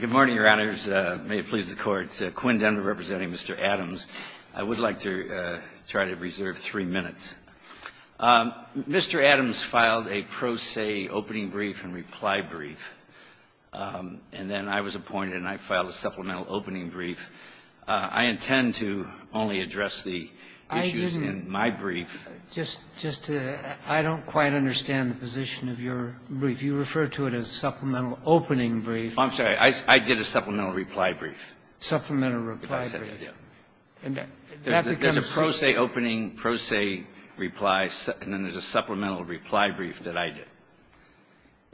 Good morning, Your Honors. May it please the Court. Quinn Denver representing Mr. Adams. I would like to try to reserve three minutes. Mr. Adams filed a pro se opening brief and reply brief, and then I was appointed and I filed a supplemental opening brief. I intend to only address the issues in my brief. I didn't. Just to – I don't quite understand the position of your brief. You refer to it as supplemental opening brief. I'm sorry. I did a supplemental reply brief. Supplemental reply brief. If I said it, yeah. And that becomes pro se. There's a pro se opening, pro se reply, and then there's a supplemental reply brief that I did.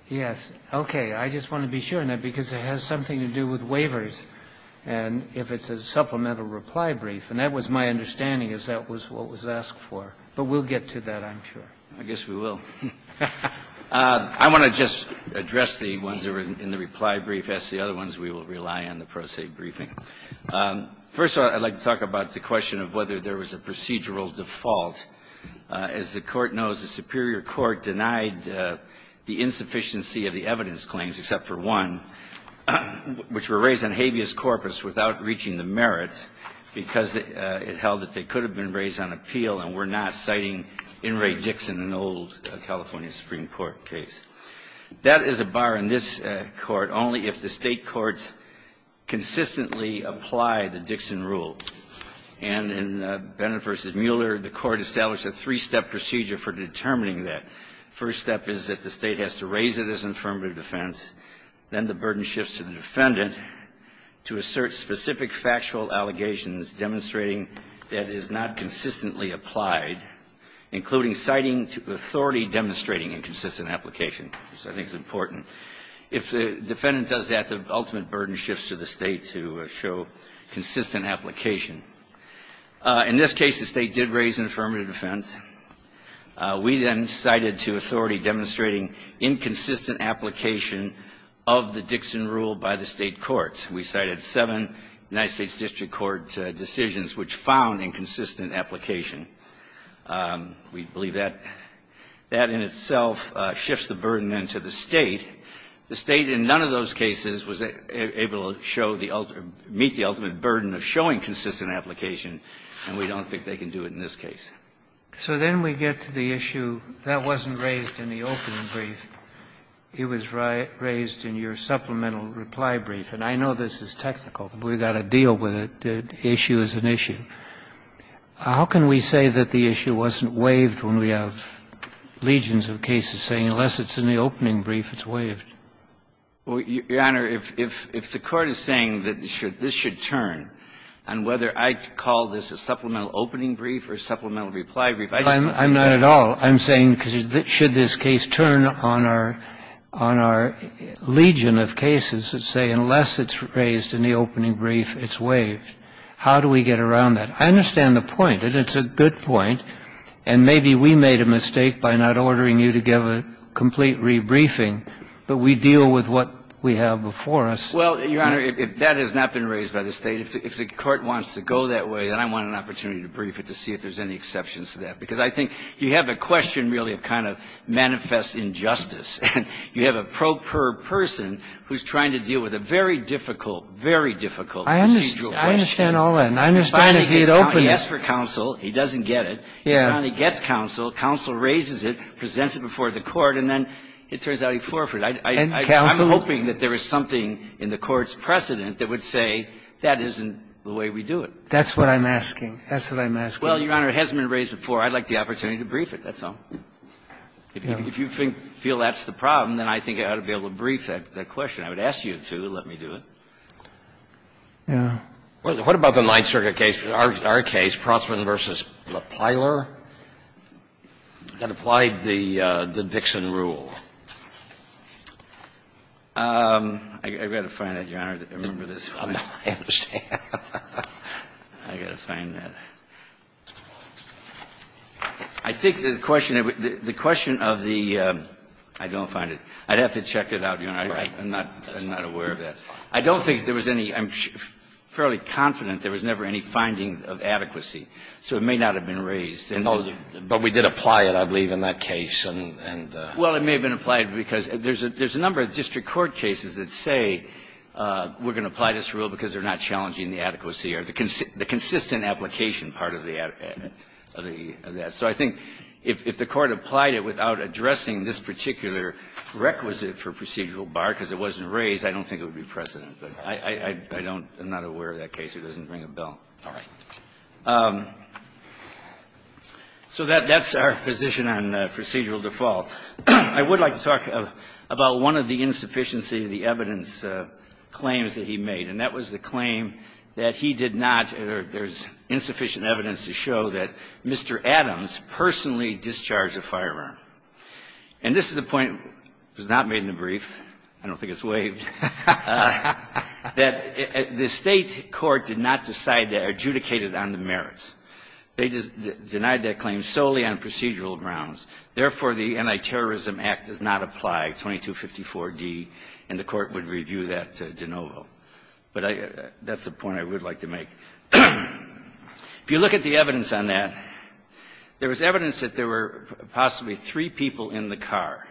Yes. Okay. I just want to be sure on that because it has something to do with waivers and if it's a supplemental reply brief. And that was my understanding is that was what was asked for. But we'll get to that, I'm sure. I guess we will. I want to just address the ones that were in the reply brief. As to the other ones, we will rely on the pro se briefing. First of all, I'd like to talk about the question of whether there was a procedural default. As the Court knows, the superior court denied the insufficiency of the evidence claims, except for one, which were raised on habeas corpus without reaching the merits because it held that they could have been raised on appeal and were not, citing In re Dixon, an old California Supreme Court case. That is a bar in this Court only if the state courts consistently apply the Dixon rule. And in Bennett v. Mueller, the Court established a three-step procedure for determining that. First step is that the state has to raise it as affirmative defense. Then the burden shifts to the defendant to assert specific factual allegations demonstrating that it is not consistently applied, including citing to authority demonstrating inconsistent application, which I think is important. If the defendant does that, the ultimate burden shifts to the state to show consistent application. In this case, the state did raise an affirmative defense. We then cited to authority demonstrating inconsistent application of the Dixon rule by the state courts. We cited seven United States district court decisions which found inconsistent application. We believe that that in itself shifts the burden then to the state. The state in none of those cases was able to show the ultimate or meet the ultimate burden of showing consistent application, and we don't think they can do it in this case. So then we get to the issue that wasn't raised in the opening brief. It was raised in your supplemental reply brief, and I know this is technical. We've got to deal with it. The issue is an issue. How can we say that the issue wasn't waived when we have legions of cases saying, unless it's in the opening brief, it's waived? Your Honor, if the Court is saying that this should turn, and whether I call this a supplemental opening brief or a supplemental reply brief, I just don't think that's the case at all. I'm saying should this case turn on our legion of cases that say, unless it's raised in the opening brief, it's waived, how do we get around that? I understand the point, and it's a good point, and maybe we made a mistake by not ordering you to give a complete rebriefing, but we deal with what we have before us. Well, Your Honor, if that has not been raised by the State, if the Court wants to go that way, then I want an opportunity to brief it to see if there's any exceptions to that, because I think you have a question, really, that kind of manifests injustice. You have a pro per person who's trying to deal with a very difficult, very difficult procedural question. I understand all that, and I understand if he had opened it. He asks for counsel. He doesn't get it. Yeah. He finally gets counsel. Counsel raises it, presents it before the Court, and then it turns out he forfeited. And counsel? I'm hoping that there is something in the Court's precedent that would say that isn't the way we do it. That's what I'm asking. That's what I'm asking. Well, Your Honor, it hasn't been raised before. I'd like the opportunity to brief it. That's all. If you think that's the problem, then I think I ought to be able to brief that question. I would ask you to. Let me do it. Yeah. What about the Ninth Circuit case, our case, Prossman v. Lepiler, that applied the Dixon rule? I've got to find that, Your Honor. I remember this. I understand. I've got to find that. I think the question of the — I don't find it. I'd have to check it out, Your Honor. Right. I'm not aware of that. I don't think there was any — I'm fairly confident there was never any finding of adequacy, so it may not have been raised. But we did apply it, I believe, in that case. Well, it may have been applied because there's a number of district court cases that say we're going to apply this rule because they're not challenging the adequacy or the consistent application part of the adequacy of that. So I think if the Court applied it without addressing this particular requisite for procedural bar because it wasn't raised, I don't think it would be precedent. But I don't — I'm not aware of that case. It doesn't ring a bell. All right. So that's our position on procedural default. I would like to talk about one of the insufficiency of the evidence claims that he made, and that was the claim that he did not — there's insufficient evidence to show that Mr. Adams personally discharged a firearm. And this is a point that was not made in the brief. I don't think it's waived. That the State court did not decide that or adjudicate it on the merits. They just denied that claim solely on procedural grounds. Therefore, the Anti-Terrorism Act does not apply, 2254D, and the Court would review that de novo. But that's a point I would like to make. If you look at the evidence on that, there was evidence that there were possibly three people in the car.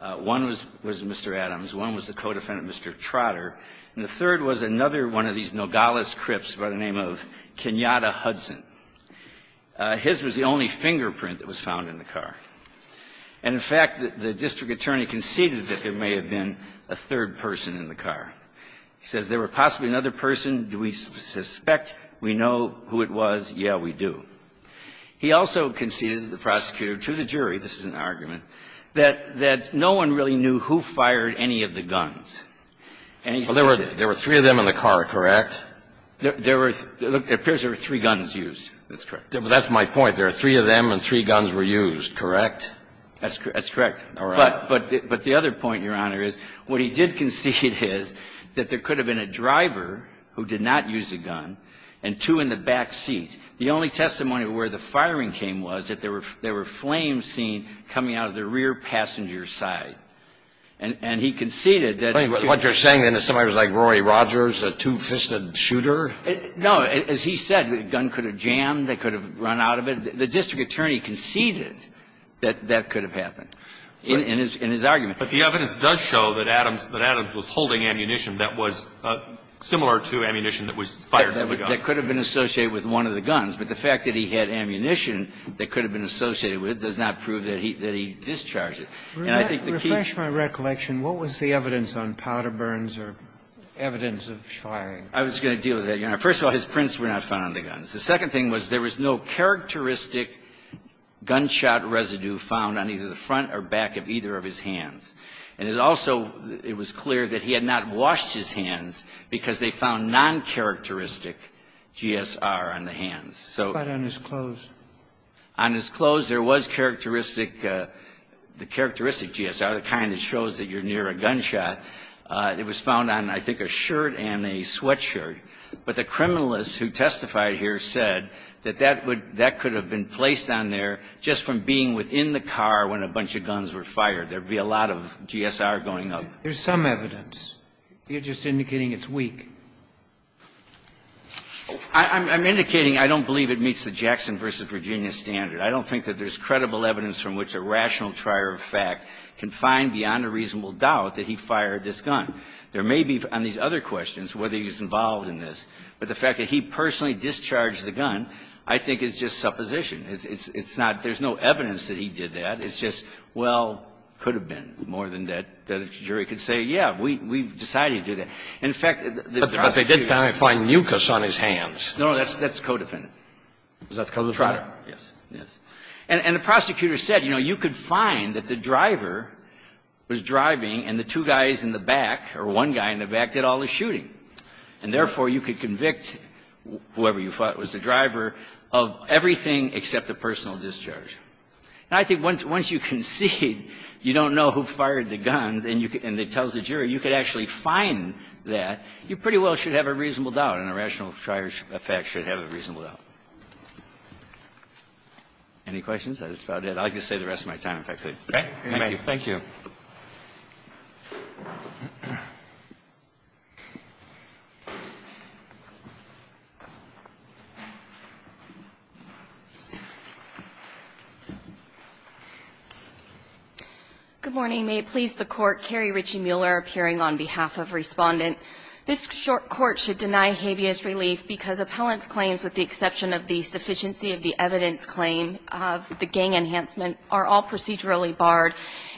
One was Mr. Adams. One was the co-defendant, Mr. Trotter. And the third was another one of these Nogales Crips by the name of Kenyatta Hudson. His was the only fingerprint that was found in the car. And, in fact, the district attorney conceded that there may have been a third person in the car. He says, there were possibly another person. Do we suspect? We know who it was. Yeah, we do. He also conceded to the prosecutor, to the jury, this is an argument, that no one really knew who fired any of the guns. And he says that. Kennedy, There were three of them in the car, correct? There were three. It appears there were three guns used. That's correct. That's my point. There were three of them and three guns were used, correct? That's correct. But the other point, Your Honor, is what he did concede is that there could have been a driver who did not use a gun and two in the back seat. The only testimony where the firing came was that there were flames seen coming out of the rear passenger side. And he conceded that. What you're saying, then, is somebody was like Rory Rogers, a two-fisted shooter? No. As he said, the gun could have jammed, they could have run out of it. The district attorney conceded that that could have happened in his argument. But the evidence does show that Adams was holding ammunition that was similar to ammunition that was fired from a gun. That could have been associated with one of the guns. But the fact that he had ammunition that could have been associated with it does not prove that he discharged it. And I think the key is the evidence of powder burns or evidence of shooting. I was going to deal with that, Your Honor. First of all, his prints were not found on the guns. The second thing was there was no characteristic gunshot residue found on either the front or back of either of his hands. And it also was clear that he had not washed his hands because they found noncharacteristic GSR on the hands. So on his clothes there was characteristic, the characteristic GSR, the kind that shows that you're near a gunshot. It was found on, I think, a shirt and a sweatshirt. But the criminalist who testified here said that that would be placed on there just from being within the car when a bunch of guns were fired. There would be a lot of GSR going up. There's some evidence. You're just indicating it's weak. I'm indicating I don't believe it meets the Jackson v. Virginia standard. I don't think that there's credible evidence from which a rational trier of fact can find beyond a reasonable doubt that he fired this gun. There may be on these other questions whether he's involved in this, but the fact that he personally discharged the gun I think is just supposition. It's not – there's no evidence that he did that. It's just, well, could have been more than that. The jury could say, yeah, we decided to do that. And in fact, the prosecution – But they did find mucus on his hands. No, that's co-defendant. Is that co-defendant? Yes. Yes. And the prosecutor said, you know, you could find that the driver was driving and the two guys in the back, or one guy in the back, did all the shooting. And therefore, you could convict whoever you thought was the driver of everything except the personal discharge. And I think once you concede you don't know who fired the guns and it tells the jury you could actually find that, you pretty well should have a reasonable doubt and a rational trier of fact should have a reasonable doubt. Any questions? I'd like to save the rest of my time, if I could. Thank you. Thank you. Good morning. May it please the Court. Carrie Ritchie-Muller appearing on behalf of Respondent. This short court should deny habeas relief because appellant's claims, with the exception of the sufficiency of the evidence claim of the gang enhancement, are all procedurally barred,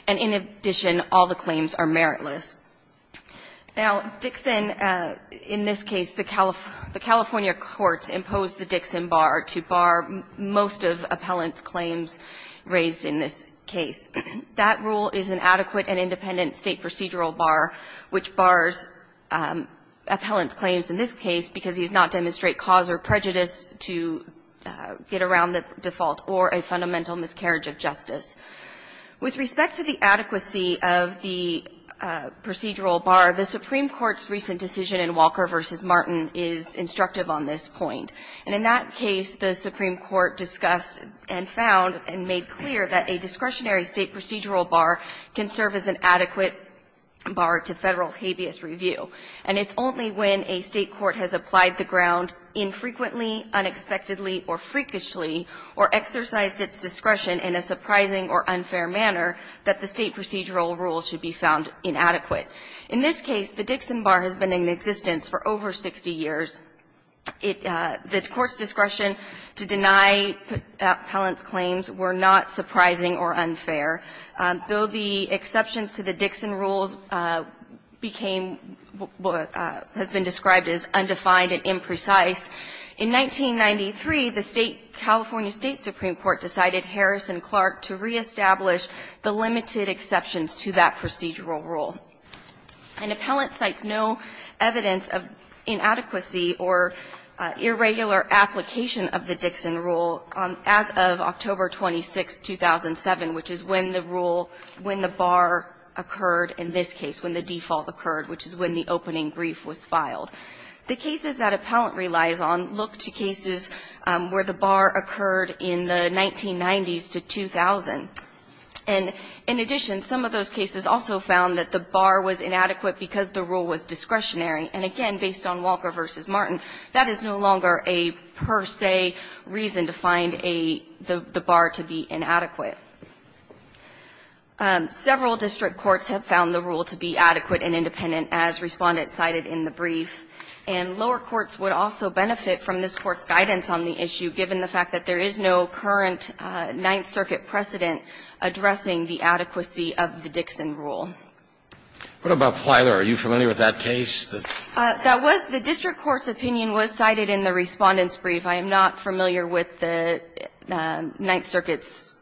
and in addition, all the claims are meritless. Now, Dixon, in this case, the California courts imposed the Dixon bar to bar most of appellant's claims raised in this case. That rule is an adequate and independent state procedural bar, which bars appellant's claims in this case because he does not demonstrate cause or prejudice to get around the default or a fundamental miscarriage of justice. With respect to the adequacy of the procedural bar, the Supreme Court's recent decision in Walker v. Martin is instructive on this point. And in that case, the Supreme Court discussed and found and made clear that a discretionary state procedural bar can serve as an adequate bar to Federal habeas review. And it's only when a State court has applied the ground infrequently, unexpectedly, or freakishly, or exercised its discretion in a surprising or unfair manner, that the State procedural rule should be found inadequate. In this case, the Dixon bar has been in existence for over 60 years. It the Court's discretion to deny appellant's claims were not surprising or unfair. Though the exceptions to the Dixon rules became what has been described as undefined and imprecise, in 1993, the State of California State Supreme Court decided Harrison Clark to reestablish the limited exceptions to that procedural rule. An appellant cites no evidence of inadequacy or irregular application of the Dixon rule as of October 26, 2007, which is when the rule, when the bar occurred in this case, when the default occurred, which is when the opening brief was filed. The cases that appellant relies on look to cases where the bar occurred in the 1990s to 2000. And in addition, some of those cases also found that the bar was inadequate because the rule was discretionary. And again, based on Walker v. Martin, that is no longer a per se reason to find a the bar to be inadequate. Several district courts have found the rule to be adequate and independent, as Respondent cited in the brief. And lower courts would also benefit from this Court's guidance on the issue, given the fact that there is no current Ninth Circuit precedent addressing the adequacy of the Dixon rule. What about Plyler? Are you familiar with that case? That was the district court's opinion was cited in the Respondent's brief. I am not familiar with the Ninth Circuit's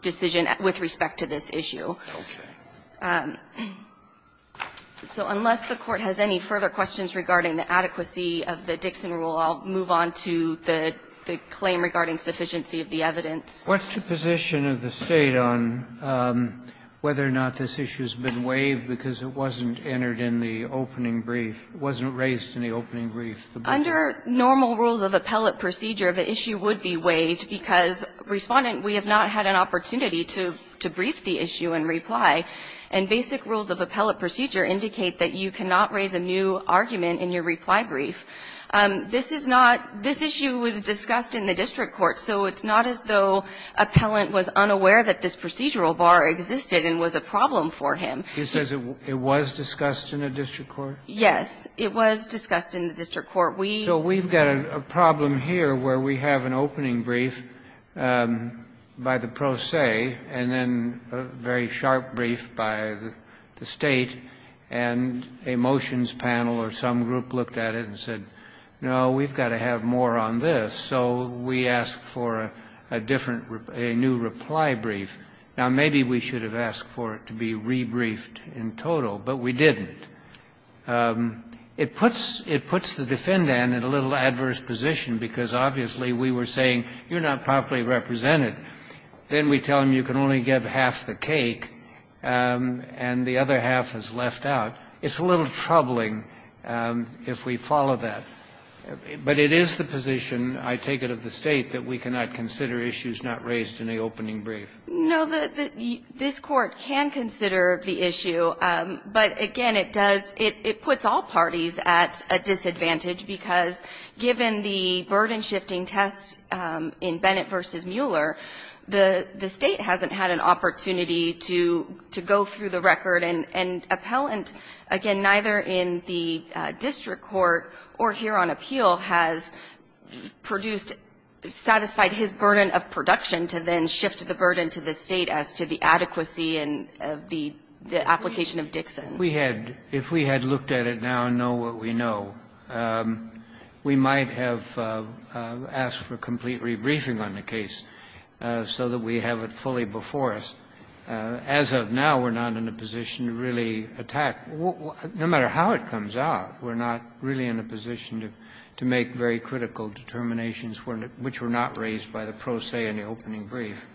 decision with respect to this issue. So unless the Court has any further questions regarding the adequacy of the Dixon rule, I'll move on to the claim regarding sufficiency of the evidence. What's the position of the State on whether or not this issue's been waived because it wasn't entered in the opening brief, wasn't raised in the opening brief? Under normal rules of appellate procedure, the issue would be waived because, Respondent, we have not had an opportunity to brief the issue in reply, and basic rules of appellate procedure indicate that you cannot raise a new argument in your reply brief. This is not this issue was discussed in the district court, so it's not as though appellant was unaware that this procedural bar existed and was a problem for him. He says it was discussed in the district court? Yes, it was discussed in the district court. So we've got a problem here where we have an opening brief by the pro se, and then a very sharp brief by the State, and a motions panel or some group looked at it and said, no, we've got to have more on this. So we asked for a different, a new reply brief. Now, maybe we should have asked for it to be rebriefed in total, but we didn't. It puts the defendant in a little adverse position because, obviously, we were saying, you're not properly represented. Then we tell him you can only give half the cake, and the other half is left out. It's a little troubling if we follow that. But it is the position, I take it, of the State that we cannot consider issues not raised in the opening brief. No, this Court can consider the issue, but again, it does, it puts all parties at a disadvantage because given the burden-shifting tests in Bennett v. Mueller, the State hasn't had an opportunity to go through the record and appellant, and again, neither in the district court or here on appeal has produced, satisfied his burden of production to then shift the burden to the State as to the adequacy and the application of Dixon. If we had looked at it now and know what we know, we might have asked for a complete rebriefing on the case so that we have it fully before us. As of now, we're not in a position to really attack, no matter how it comes out, we're not really in a position to make very critical determinations which were not raised by the pro se in the opening brief.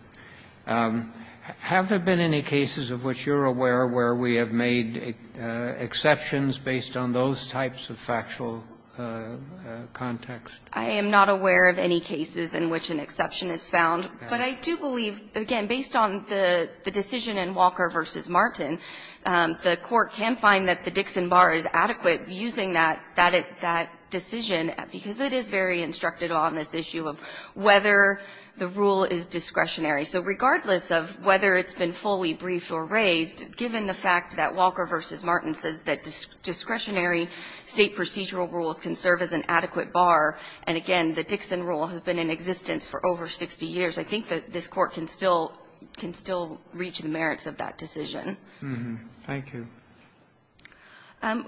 Have there been any cases of which you're aware where we have made exceptions based on those types of factual context? I am not aware of any cases in which an exception is found, but I do believe, again, based on the decision in Walker v. Martin, the Court can find that the Dixon bar is adequate using that decision because it is very instructed on this issue of whether the rule is discretionary. So regardless of whether it's been fully briefed or raised, given the fact that Walker v. Martin says that discretionary State procedural rules can serve as an adequate bar, and again, the Dixon rule has been in existence for over 60 years, I think that this Court can still reach the merits of that decision. Thank you.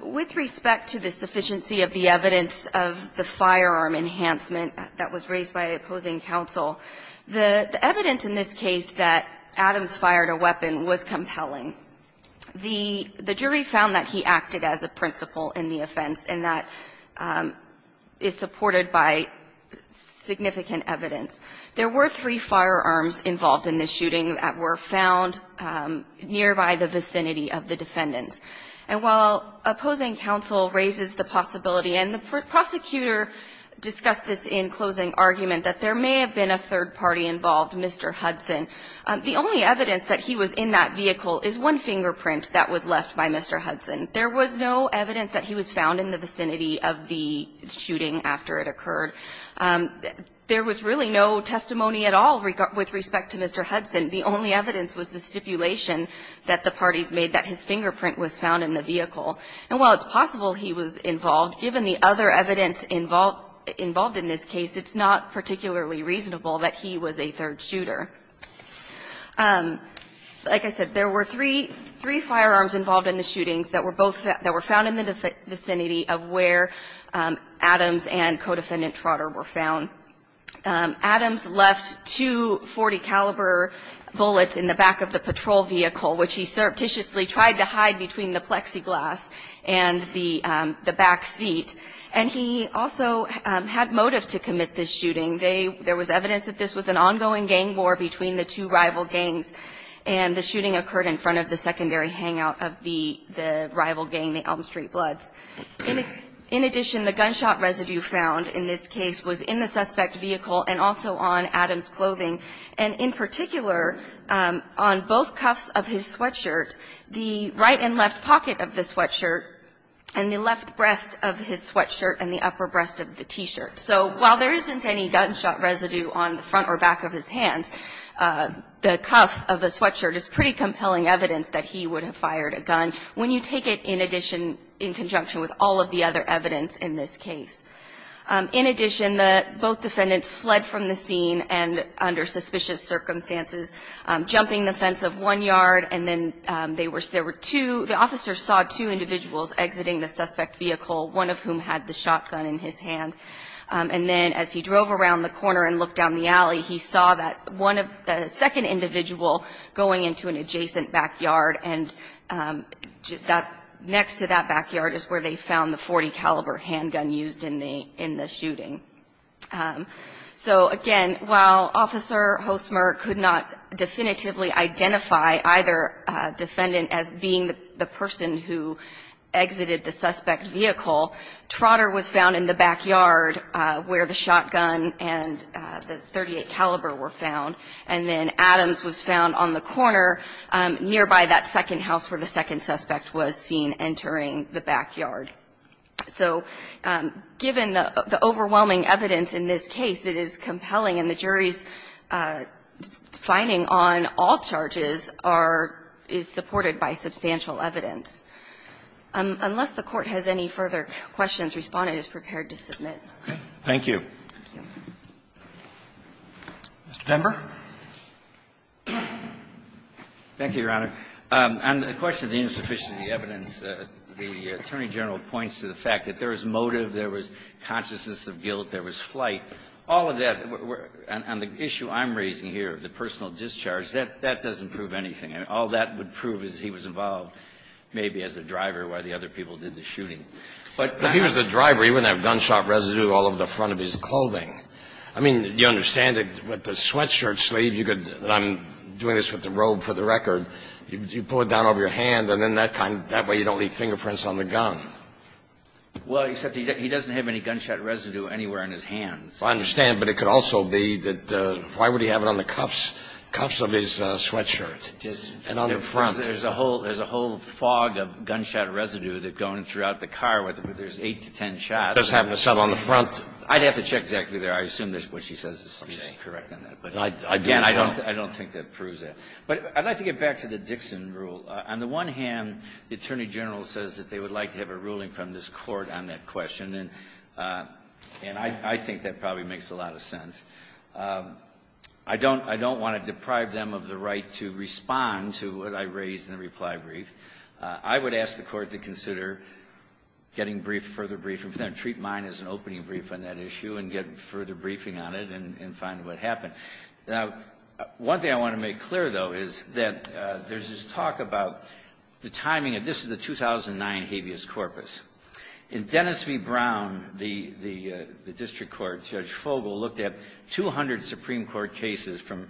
With respect to the sufficiency of the evidence of the firearm enhancement that was raised by opposing counsel, the evidence in this case that Adams fired a weapon was compelling. The jury found that he acted as a principal in the offense, and that is supported by significant evidence. There were three firearms involved in this shooting that were found nearby the vicinity of the defendants. And while opposing counsel raises the possibility, and the prosecutor discussed this in closing argument, that there may have been a third party involved, Mr. Hudson, the only evidence that he was in that vehicle is one fingerprint that was left by Mr. Hudson. There was no evidence that he was found in the vicinity of the shooting after it occurred. There was really no testimony at all with respect to Mr. Hudson. The only evidence was the stipulation that the parties made that his fingerprint was found in the vehicle. And while it's possible he was involved, given the other evidence involved in this case, it's not particularly reasonable that he was a third shooter. Like I said, there were three firearms involved in the shootings that were both found in the vicinity of where Adams and co-defendant Trotter were found. Adams left two .40-caliber bullets in the back of the patrol vehicle, which he surreptitiously tried to hide between the plexiglass and the back seat. And he also had motive to commit this shooting. They – there was evidence that this was an ongoing gang war between the two rival gangs, and the shooting occurred in front of the secondary hangout of the rival gang, the Elm Street Bloods. In addition, the gunshot residue found in this case was in the suspect's vehicle and also on Adams' clothing, and in particular, on both cuffs of his sweatshirt, the right and left pocket of the sweatshirt, and the left breast of his sweatshirt and the upper breast of the T-shirt. So while there isn't any gunshot residue on the front or back of his hands, the cuffs of the sweatshirt is pretty compelling evidence that he would have fired a gun. When you take it in addition – in conjunction with all of the other evidence in this case. In addition, the – both defendants fled from the scene and, under suspicious circumstances, jumping the fence of one yard, and then they were – there were two – the officer saw two individuals exiting the suspect vehicle, one of whom had the shotgun in his hand. And then as he drove around the corner and looked down the alley, he saw that one of – the second individual going into an adjacent backyard, and that – next to that backyard is where they found the .40-caliber handgun used in the – in the shooting. So, again, while Officer Hosmer could not definitively identify either defendant as being the person who exited the suspect vehicle, Trotter was found in the backyard where the shotgun and the .38-caliber were found. And then Adams was found on the corner nearby that second house where the second suspect was seen entering the backyard. So given the overwhelming evidence in this case, it is compelling, and the jury's finding on all charges are – is supported by substantial evidence. Unless the Court has any further questions, Respondent is prepared to submit. Roberts. Thank you. Mr. Pember. Thank you, Your Honor. On the question of the insufficiency evidence, the Attorney General points to the fact that there was motive, there was consciousness of guilt, there was flight. All of that, and the issue I'm raising here, the personal discharge, that doesn't prove anything. All that would prove is he was involved maybe as a driver while the other people did the shooting. But if he was a driver, he wouldn't have gunshot residue all over the front of his clothing. I mean, you understand that with the sweatshirt sleeve, you could – and I'm doing this with the robe for the record – you pull it down over your hand, and then that way you don't leave fingerprints on the gun. Well, except he doesn't have any gunshot residue anywhere in his hands. I understand, but it could also be that – why would he have it on the cuffs of his sweatshirt and on the front? There's a whole – there's a whole fog of gunshot residue that's going throughout the car, where there's 8 to 10 shots. That's having a sub on the front? I'd have to check exactly there. I assume that what she says is correct on that. But again, I don't think that proves that. But I'd like to get back to the Dixon rule. On the one hand, the Attorney General says that they would like to have a ruling I don't want to deprive them of the right to respond to what I raised in the reply brief. I would ask the Court to consider getting briefed, further briefing. Treat mine as an opening brief on that issue and get further briefing on it and find what happened. Now, one thing I want to make clear, though, is that there's this talk about the timing of – this is the 2009 habeas corpus. In Dennis v. Brown, the district court, Judge Fogel, looked at 200 Supreme Court cases from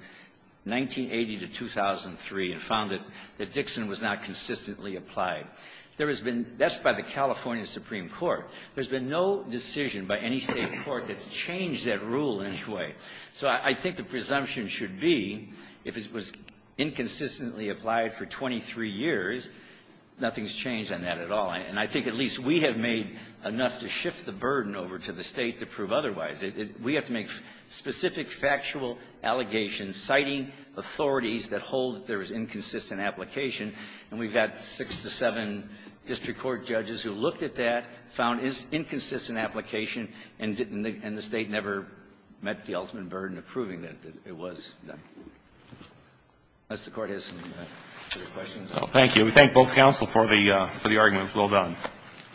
1980 to 2003 and found that Dixon was not consistently applied. There has been – that's by the California Supreme Court. There's been no decision by any state court that's changed that rule in any way. So I think the presumption should be if it was inconsistently applied for 23 years, nothing's changed on that at all. And I think at least we have made enough to shift the burden over to the state to prove otherwise. We have to make specific factual allegations citing authorities that hold that there was inconsistent application. And we've got six to seven district court judges who looked at that, found it's inconsistent application, and the state never met the ultimate burden of proving that it was. Unless the Court has some further questions. Thank you. We thank both counsel for the arguments. Well done.